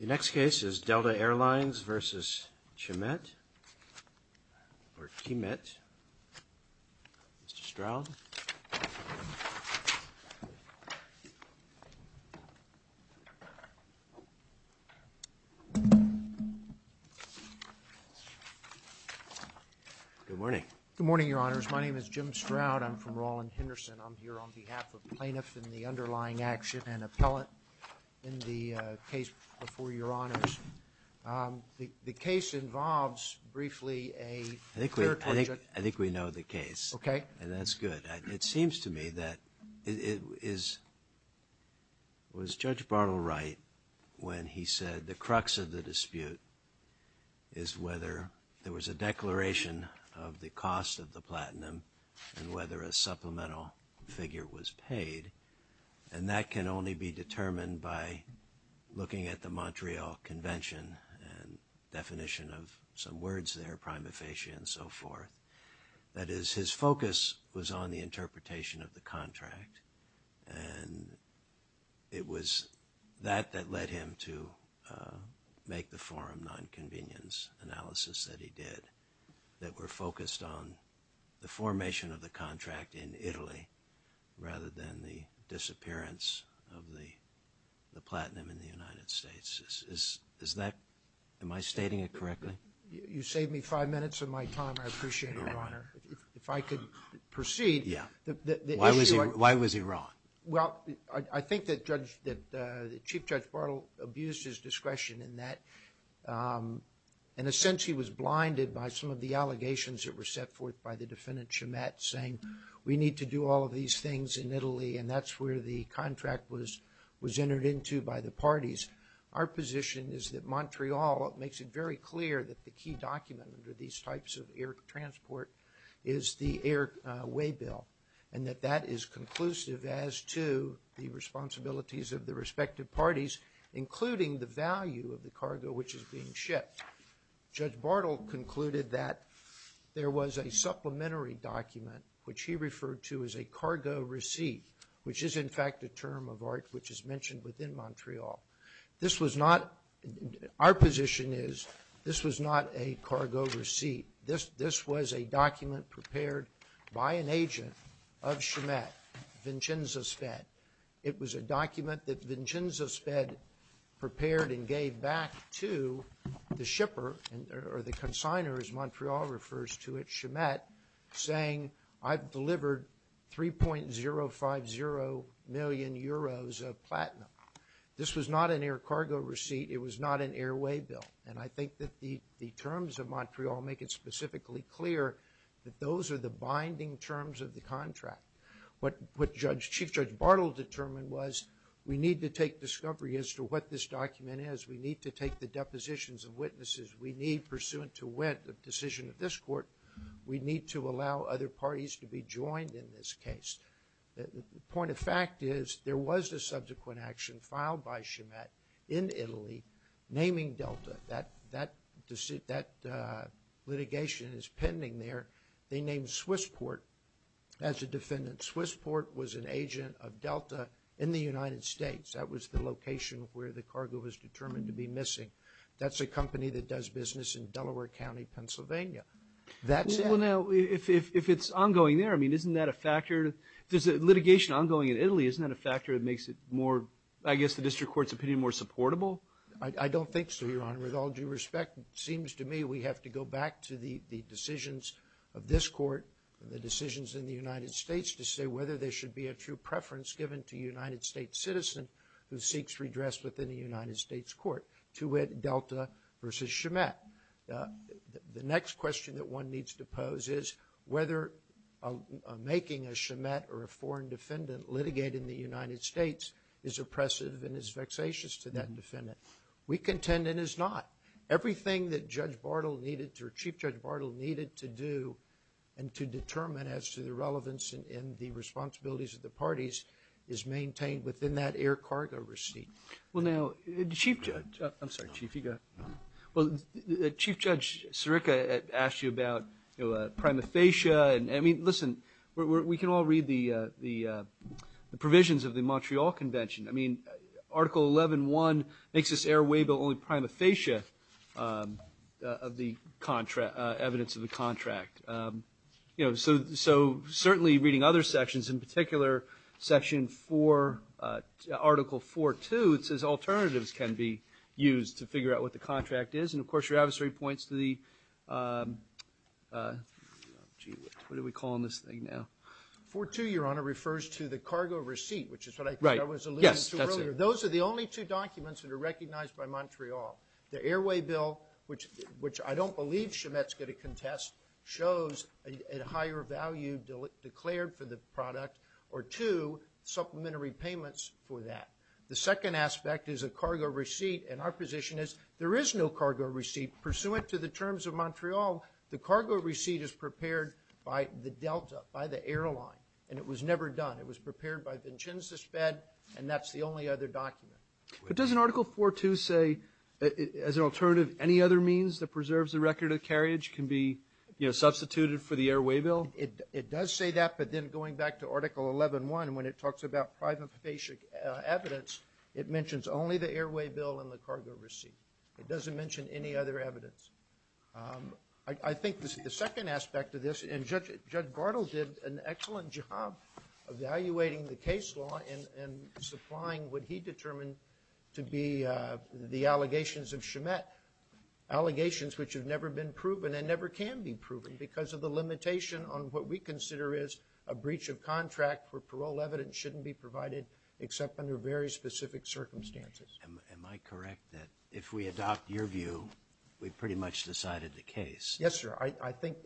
The next case is Delta Airlines versus Chimet or Chimet. Mr. Stroud. Good morning. Good morning, your honors. My name is Jim Stroud. I'm from Rolland Henderson. I'm here on behalf of plaintiffs in the underlying action and appellate in the case before your honors. The case involves briefly a clear... I think we know the case. Okay. And that's good. It seems to me that it is was Judge Bartle right when he said the crux of the dispute is whether there was a declaration of the cost of the platinum and whether a supplemental figure was paid. And that can only be determined by looking at the Montreal Convention and definition of some words there, prima facie and so forth. That is, his focus was on the interpretation of the contract and it was that that led him to make the forum non-convenience analysis that he did that were focused on the formation of the contract in Italy rather than the disappearance of the platinum in the United States. Am I stating it correctly? You saved me five minutes of my time. I appreciate it, your honor. If I could proceed. Yeah. Why was he wrong? Well, I think that Chief Judge Bartle abused his discretion in that in a sense he was blinded by some of the allegations that were set forth by the defendant Chimet saying we need to do all of these things in Italy and that's where the contract was was entered into by the parties. Our position is that Montreal makes it very clear that the key document under these types of air transport is the airway bill and that that is conclusive as to the responsibilities of the respective parties including the value of the cargo which is being shipped. Judge Bartle concluded that there was a supplementary document which he referred to as a cargo receipt which is in fact a term of art which is mentioned within Montreal. This was not, our position is, this was not a cargo receipt. This was a document prepared by an agent of Chimet, Vincenzo Sped. It was a document that Vincenzo Sped prepared and gave back to the shipper or the consignor as Montreal refers to it, Chimet, saying I've delivered 3.050 million euros of platinum. This was not an air cargo receipt. It was not an airway bill and I think that the terms of Montreal make it specifically clear that those are the binding terms of the contract. What Chief Judge Bartle determined was we need to take discovery as to what this document is. We need to take the depositions of witnesses. We need, pursuant to the decision of this court, we need to allow other parties to be joined in this case. The point of fact is there was a subsequent action filed by Chimet in Italy naming Delta. That litigation is pending there. They named Swissport as a defendant. Swissport was an agent of Delta in the United States. That was the location where the cargo was determined to be missing. That's a company that does business in Delaware County, Pennsylvania. Well, now, if it's ongoing there, I mean, isn't that a factor? There's litigation ongoing in Italy. Isn't that a factor that makes it more, I guess, the district court's opinion more supportable? I don't think so, Your Honor. With all due respect, it seems to me we have to go back to the decisions of this court and the decisions in the United States to say whether there should be a true preference given to a United States citizen who seeks redress within a United States court to add Delta versus Chimet. The next question that one needs to pose is whether making a Chimet or a foreign defendant litigate in the United States is oppressive and is vexatious to that defendant. We contend it is not. Everything that Chief Judge Bartle needed to do and to determine as to the relevance and the responsibilities of the parties is maintained within that air cargo receipt. Well, now, Chief Judge – I'm sorry, Chief, you go. Well, Chief Judge Sirica asked you about prima facie. I mean, listen, we can all read the provisions of the Montreal Convention. I mean, Article 11.1 makes this airway but only prima facie of the evidence of the contract. You know, so certainly reading other sections, in particular Section 4 – Article 4.2, it says alternatives can be used to figure out what the contract is. And, of course, your adversary points to the – gee, what are we calling this thing now? Article 4.2, Your Honor, refers to the cargo receipt, which is what I was alluding to earlier. Those are the only two documents that are recognized by Montreal. The airway bill, which I don't believe Chimet's going to contest, shows a higher value declared for the product or two supplementary payments for that. The second aspect is a cargo receipt, and our position is there is no cargo receipt. Pursuant to the terms of Montreal, the cargo receipt is prepared by the Delta, by the airline, and it was never done. It was prepared by Vincenzo's bed, and that's the only other document. But doesn't Article 4.2 say, as an alternative, any other means that preserves the record of carriage can be, you know, substituted for the airway bill? It does say that, but then going back to Article 11.1, when it talks about private basic evidence, it mentions only the airway bill and the cargo receipt. It doesn't mention any other evidence. I think the second aspect of this, and Judge Bartle did an excellent job evaluating the case law and supplying what he determined to be the allegations of Chimet, allegations which have never been proven and never can be proven because of the limitation on what we consider is a breach of contract where parole evidence shouldn't be provided except under very specific circumstances. Am I correct that if we adopt your view, we've pretty much decided the case? Yes, sir. I think,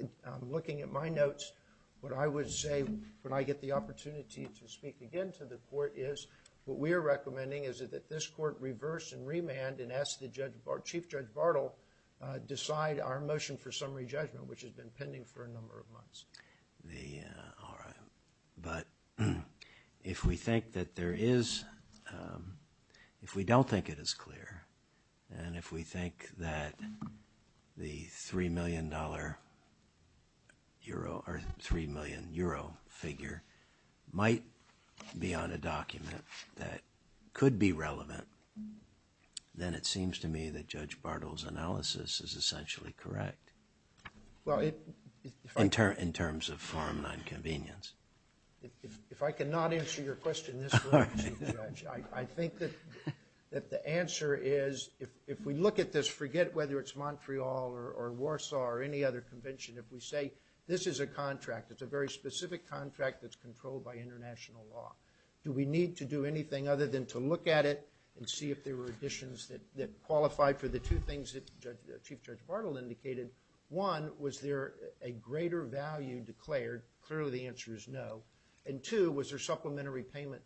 looking at my notes, what I would say when I get the opportunity to speak again to the court is what we are recommending is that this court reverse and remand and ask Chief Judge Bartle decide our motion for summary judgment, which has been pending for a number of months. All right. But if we think that there is, if we don't think it is clear, and if we think that the three million dollar euro or three million euro figure might be on a document that could be relevant, then it seems to me that Judge Bartle's analysis is essentially correct. In terms of foreign non-convenience. If I cannot answer your question this way, Chief Judge, I think that the answer is if we look at this, forget whether it's Montreal or Warsaw or any other convention, if we say this is a contract, it's a very specific contract that's controlled by international law, do we need to do anything other than to look at it and see if there were additions that qualified for the two things that Chief Judge Bartle indicated? One, was there a greater value declared? Clearly the answer is no. And two, was there supplementary payment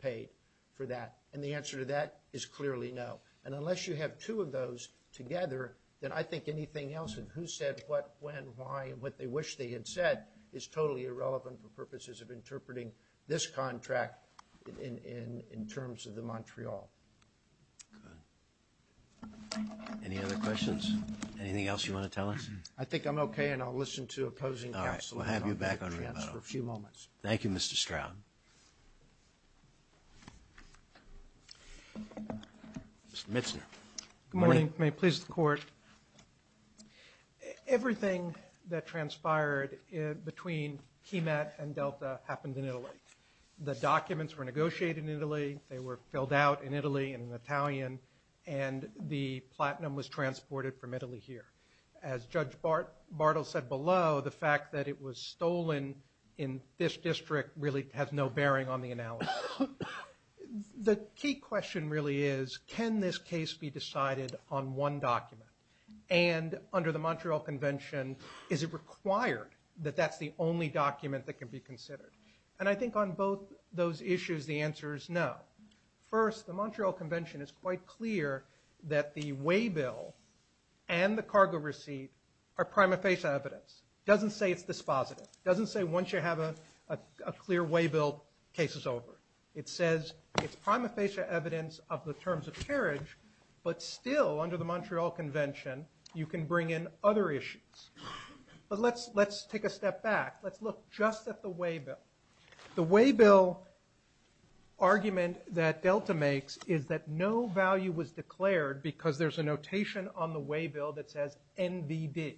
paid for that? And the answer to that is clearly no. And unless you have two of those together, then I think anything else and who said what, when, why, and what they wish they had said is totally irrelevant for purposes of interpreting this contract in terms of the Montreal. Good. Any other questions? Anything else you want to tell us? I think I'm okay and I'll listen to opposing counsel. All right. We'll have you back on rebuttal. For a few moments. Thank you, Mr. Stroud. Mr. Mitzner. Good morning. May it please the Court. Everything that transpired between KeyMet and Delta happened in Italy. The documents were negotiated in Italy. They were filled out in Italy in Italian, and the platinum was transported from Italy here. As Judge Bartle said below, the fact that it was stolen in this district really has no bearing on the analysis. The key question really is, can this case be decided on one document? And under the Montreal Convention, is it required that that's the only document that can be considered? And I think on both those issues, the answer is no. First, the Montreal Convention is quite clear that the waybill and the cargo receipt are prima facie evidence. It doesn't say it's dispositive. It doesn't say once you have a clear waybill, the case is over. It says it's prima facie evidence of the terms of carriage, but still, under the Montreal Convention, you can bring in other issues. But let's take a step back. Let's look just at the waybill. The waybill argument that Delta makes is that no value was declared because there's a notation on the waybill that says NVD.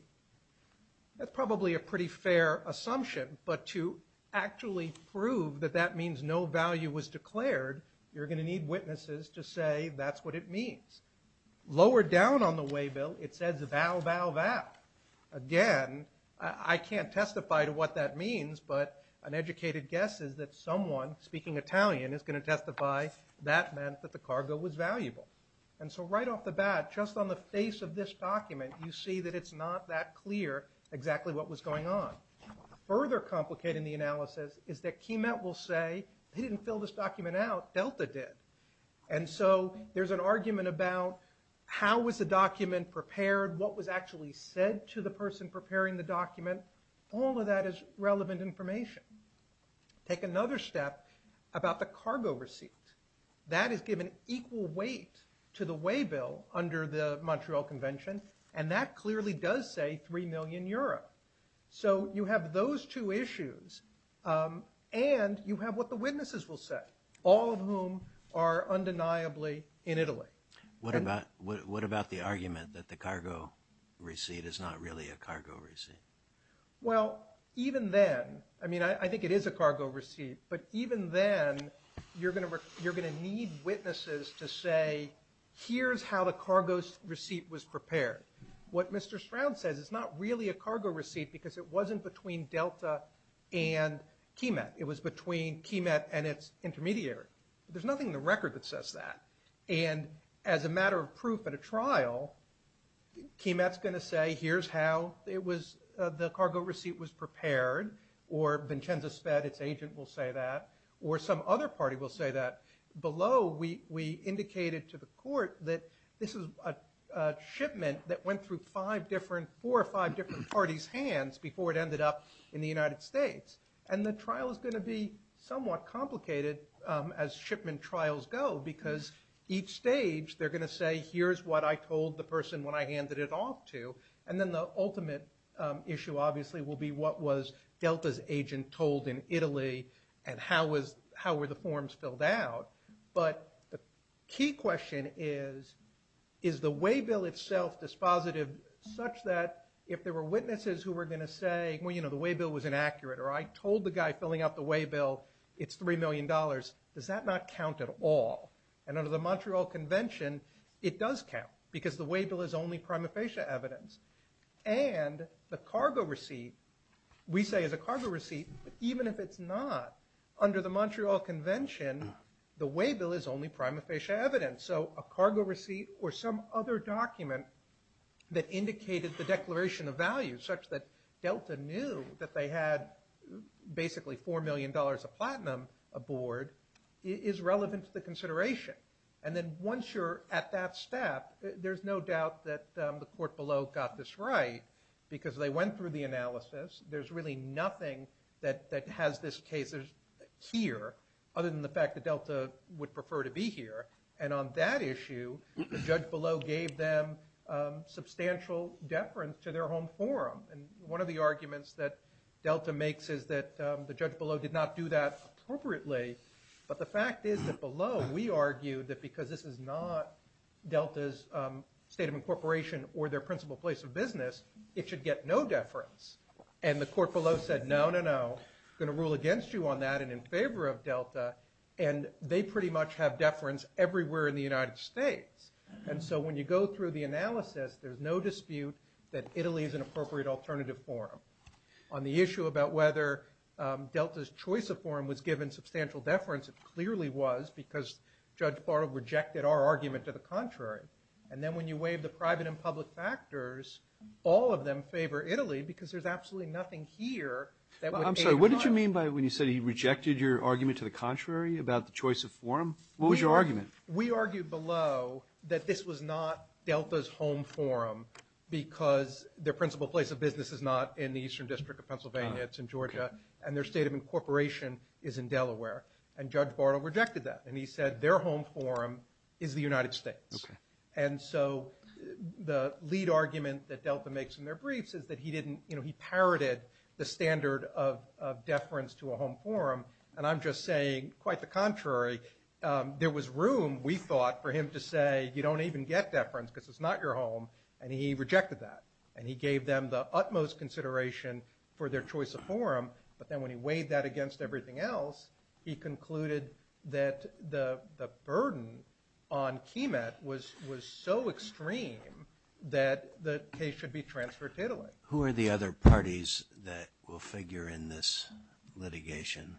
That's probably a pretty fair assumption, but to actually prove that that means no value was declared, you're going to need witnesses to say that's what it means. Lower down on the waybill, it says val, val, val. Again, I can't testify to what that means, but an educated guess is that someone, speaking Italian, is going to testify that meant that the cargo was valuable. And so right off the bat, just on the face of this document, you see that it's not that clear exactly what was going on. Further complicating the analysis is that KeyMet will say they didn't fill this document out, Delta did. And so there's an argument about how was the document prepared, what was actually said to the person preparing the document. All of that is relevant information. Take another step about the cargo receipt. That is given equal weight to the waybill under the Montreal Convention, and that clearly does say 3 million euro. So you have those two issues, and you have what the witnesses will say, all of whom are undeniably in Italy. What about the argument that the cargo receipt is not really a cargo receipt? Well, even then, I mean, I think it is a cargo receipt, but even then, you're going to need witnesses to say here's how the cargo receipt was prepared. What Mr. Stroud says, it's not really a cargo receipt because it wasn't between Delta and KeyMet. It was between KeyMet and its intermediary. There's nothing in the record that says that. And as a matter of proof at a trial, KeyMet's going to say here's how the cargo receipt was prepared, or Vincenza Sped, its agent, will say that, or some other party will say that. Below, we indicated to the court that this is a shipment that went through four or five different parties' hands before it ended up in the United States. And the trial is going to be somewhat complicated as shipment trials go because each stage, they're going to say here's what I told the person when I handed it off to. And then the ultimate issue, obviously, will be what was Delta's agent told in Italy, and how were the forms filled out. But the key question is, is the waybill itself dispositive such that if there were witnesses who were going to say, well, you know, the waybill was inaccurate, or I told the guy filling out the waybill it's $3 million, does that not count at all? And under the Montreal Convention, it does count because the waybill is only prima facie evidence. And the cargo receipt, we say is a cargo receipt, but even if it's not, under the Montreal Convention, the waybill is only prima facie evidence. So a cargo receipt or some other document that indicated the declaration of value, such that Delta knew that they had basically $4 million of platinum aboard, is relevant to the consideration. And then once you're at that step, there's no doubt that the court below got this right, because they went through the analysis. There's really nothing that has this case here, other than the fact that Delta would prefer to be here. And on that issue, the judge below gave them substantial deference to their home forum. And one of the arguments that Delta makes is that the judge below did not do that appropriately. But the fact is that below, we argue that because this is not Delta's state of incorporation or their principal place of business, it should get no deference. And the court below said, no, no, no, we're going to rule against you on that and in favor of Delta. And they pretty much have deference everywhere in the United States. And so when you go through the analysis, there's no dispute that Italy is an appropriate alternative forum. On the issue about whether Delta's choice of forum was given substantial deference, it clearly was, because Judge Barlow rejected our argument to the contrary. And then when you waive the private and public factors, all of them favor Italy, because there's absolutely nothing here that would aid our forum. I'm sorry, what did you mean by when you said he rejected your argument to the contrary about the choice of forum? What was your argument? We argued below that this was not Delta's home forum, because their principal place of business is not in the Eastern District of Pennsylvania, it's in Georgia, and their state of incorporation is in Delaware. And Judge Barlow rejected that, and he said their home forum is the United States. And so the lead argument that Delta makes in their briefs is that he didn't, you know, he parroted the standard of deference to a home forum. And I'm just saying, quite the contrary, there was room, we thought, for him to say, you don't even get deference because it's not your home, and he rejected that. And he gave them the utmost consideration for their choice of forum, but then when he weighed that against everything else, he concluded that the burden on KEMET was so extreme that the case should be transferred to Italy. Who are the other parties that will figure in this litigation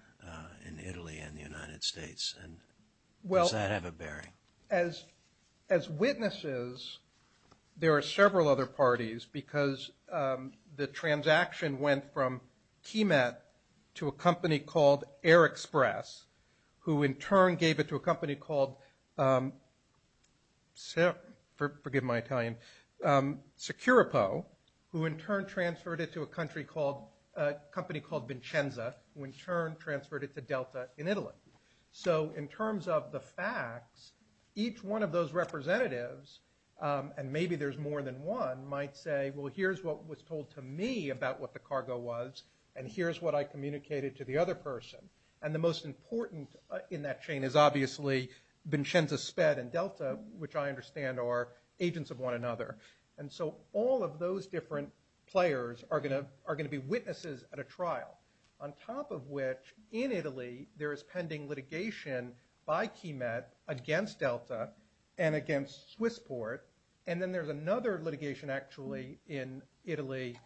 in Italy and the United States, and does that have a bearing? As witnesses, there are several other parties, because the transaction went from KEMET to a company called Air Express, who in turn gave it to a company called, forgive my Italian, Securipo, who in turn transferred it to a country called, a company called Vincenza, who in turn transferred it to Delta in Italy. So in terms of the facts, each one of those representatives, and maybe there's more than one, might say, well, here's what was told to me about what the cargo was, and here's what I communicated to the other person. And the most important in that chain is obviously Vincenza, Sped, and Delta, which I understand are agents of one another. And so all of those different players are going to be witnesses at a trial, on top of which in Italy there is pending litigation by KEMET against Delta and against Swissport, and then there's another litigation actually in Italy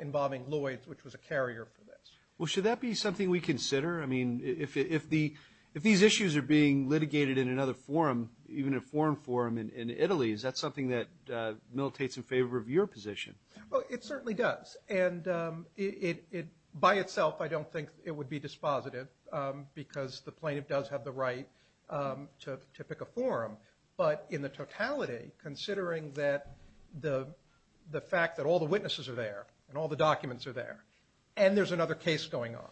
involving Lloyds, which was a carrier for this. Well, should that be something we consider? I mean, if these issues are being litigated in another forum, even a foreign forum in Italy, is that something that militates in favor of your position? Well, it certainly does, and by itself I don't think it would be dispositive, because the plaintiff does have the right to pick a forum. But in the totality, considering the fact that all the witnesses are there, and all the documents are there, and there's another case going on,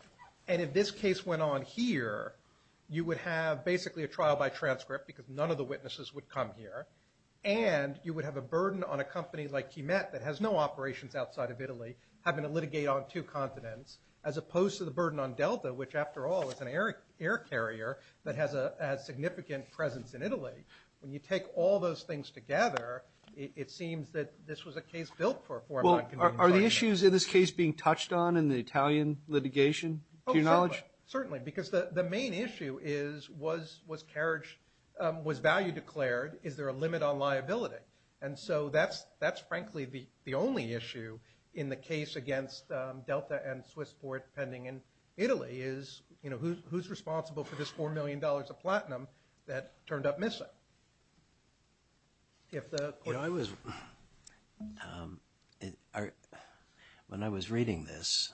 and if this case went on here, you would have basically a trial by transcript, because none of the witnesses would come here, and you would have a burden on a company like KEMET that has no operations outside of Italy having to litigate on two continents, as opposed to the burden on Delta, which after all is an air carrier that has a significant presence in Italy. When you take all those things together, it seems that this was a case built for a forum on convenience. Well, are the issues in this case being touched on in the Italian litigation, to your knowledge? Oh, certainly, certainly, because the main issue is, was carriage, was value declared? Is there a limit on liability? And so that's frankly the only issue in the case against Delta and Swissport pending in Italy is, you know, who's responsible for this $4 million of platinum that turned up missing? You know, when I was reading this,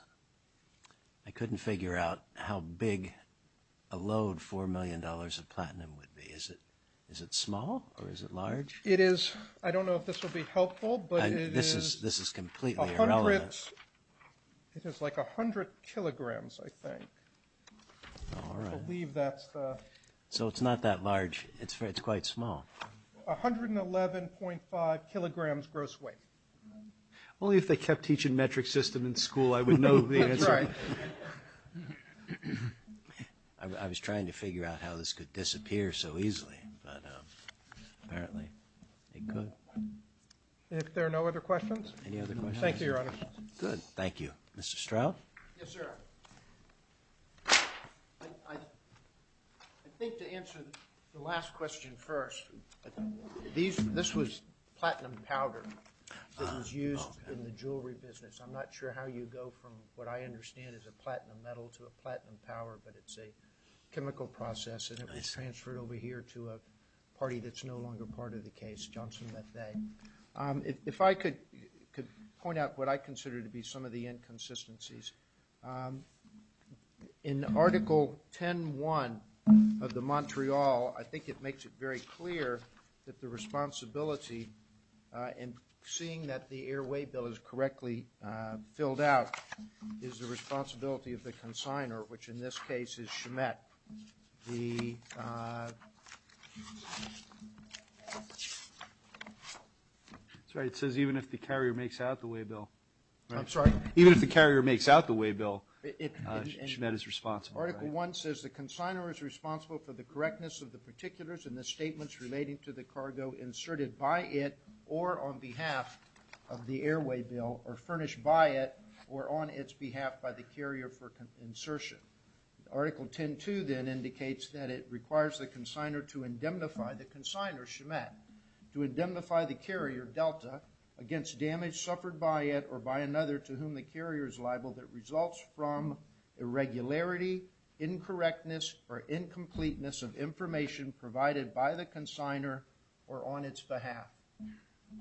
I couldn't figure out how big a load $4 million of platinum would be. Is it small, or is it large? It is, I don't know if this will be helpful, but it is. This is completely irrelevant. It is like 100 kilograms, I think. I believe that's the. So it's not that large, it's quite small. 111.5 kilograms gross weight. Only if they kept teaching metric system in school, I would know the answer. That's right. I was trying to figure out how this could disappear so easily, but apparently it could. If there are no other questions. Any other questions? Thank you, Your Honor. Good, thank you. Mr. Stroud? Yes, sir. I think to answer the last question first, this was platinum powder that was used in the jewelry business. I'm not sure how you go from what I understand is a platinum metal to a platinum powder, but it's a chemical process, and it was transferred over here to a party that's no longer part of the case, Johnson Methade. If I could point out what I consider to be some of the inconsistencies. In Article 10.1 of the Montreal, I think it makes it very clear that the responsibility in seeing that the airway bill is correctly filled out is the responsibility of the consignor, which in this case is Schmidt. That's right. It says even if the carrier makes out the way bill. I'm sorry? Even if the carrier makes out the way bill, Schmidt is responsible. Article 1 says the consignor is responsible for the correctness of the particulars and the statements relating to the cargo inserted by it or on behalf of the airway bill or furnished by it or on its behalf by the carrier for insertion. Article 10.2 then indicates that it requires the consignor to indemnify the consignor, Schmidt, to indemnify the carrier, Delta, against damage suffered by it or by another to whom the carrier is liable that results from irregularity, incorrectness, or incompleteness of information provided by the consignor or on its behalf.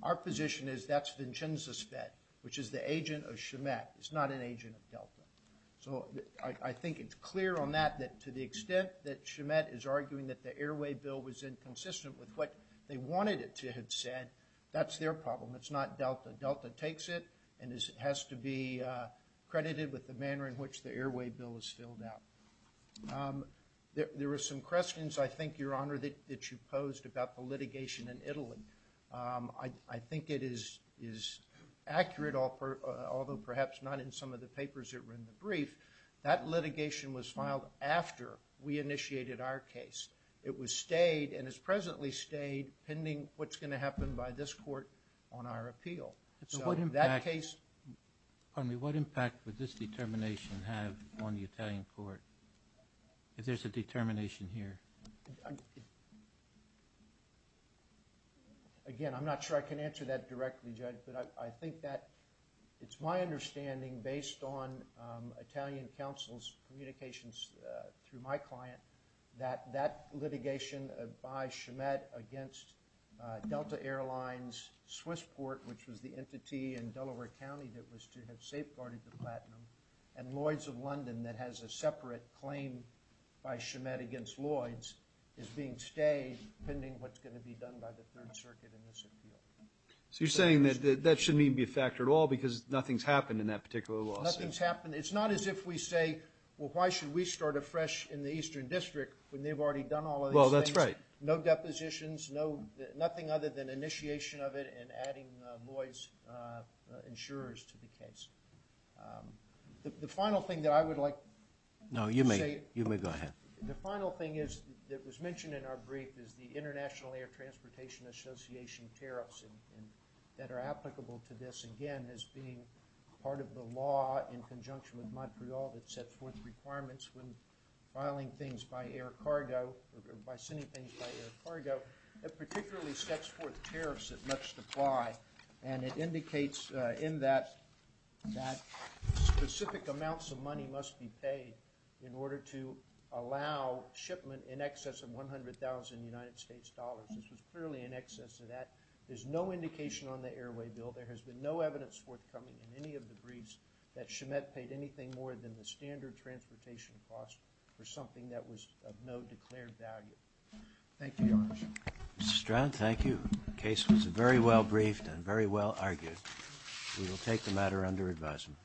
Our position is that's Vincenzo's bet, which is the agent of Schmidt. It's not an agent of Delta. So I think it's clear on that that to the extent that Schmidt is arguing that the airway bill was inconsistent with what they wanted it to have said, that's their problem. It's not Delta. Delta takes it and has to be credited with the manner in which the airway bill is filled out. There were some questions, I think, Your Honor, that you posed about the litigation in Italy. I think it is accurate, although perhaps not in some of the papers that were in the brief. That litigation was filed after we initiated our case. It was stayed and has presently stayed pending what's going to happen by this court on our appeal. So that case- Pardon me. What impact would this determination have on the Italian court if there's a determination here? Again, I'm not sure I can answer that directly, Judge, but I think that it's my understanding based on Italian counsel's communications through my client that that litigation by Schmidt against Delta Airlines, Swissport, which was the entity in Delaware County that was to have safeguarded the platinum, and Lloyds of London that has a separate claim by Schmidt against Lloyds is being stayed pending what's going to be done by the Third Circuit in this appeal. So you're saying that that shouldn't even be a factor at all because nothing's happened in that particular lawsuit? Nothing's happened. It's not as if we say, well, why should we start afresh in the Eastern District when they've already done all of these things? Well, that's right. No depositions, nothing other than initiation of it and adding Lloyds insurers to the case. The final thing that I would like to say- No, you may. You may go ahead. The final thing that was mentioned in our brief is the International Air Transportation Association tariffs that are applicable to this, again, as being part of the law in conjunction with Montreal that sets forth requirements when filing things by air cargo or by sending things by air cargo. It particularly sets forth tariffs that must apply, and it indicates in that that specific amounts of money must be paid in order to allow shipment in excess of $100,000 in the United States dollars. This was clearly in excess of that. There's no indication on the airway bill. There has been no evidence forthcoming in any of the briefs that Schmidt paid anything more than the standard transportation cost for something that was of no declared value. Thank you, Your Honor. Mr. Stroud, thank you. The case was very well briefed and very well argued. We will take the matter under advisement.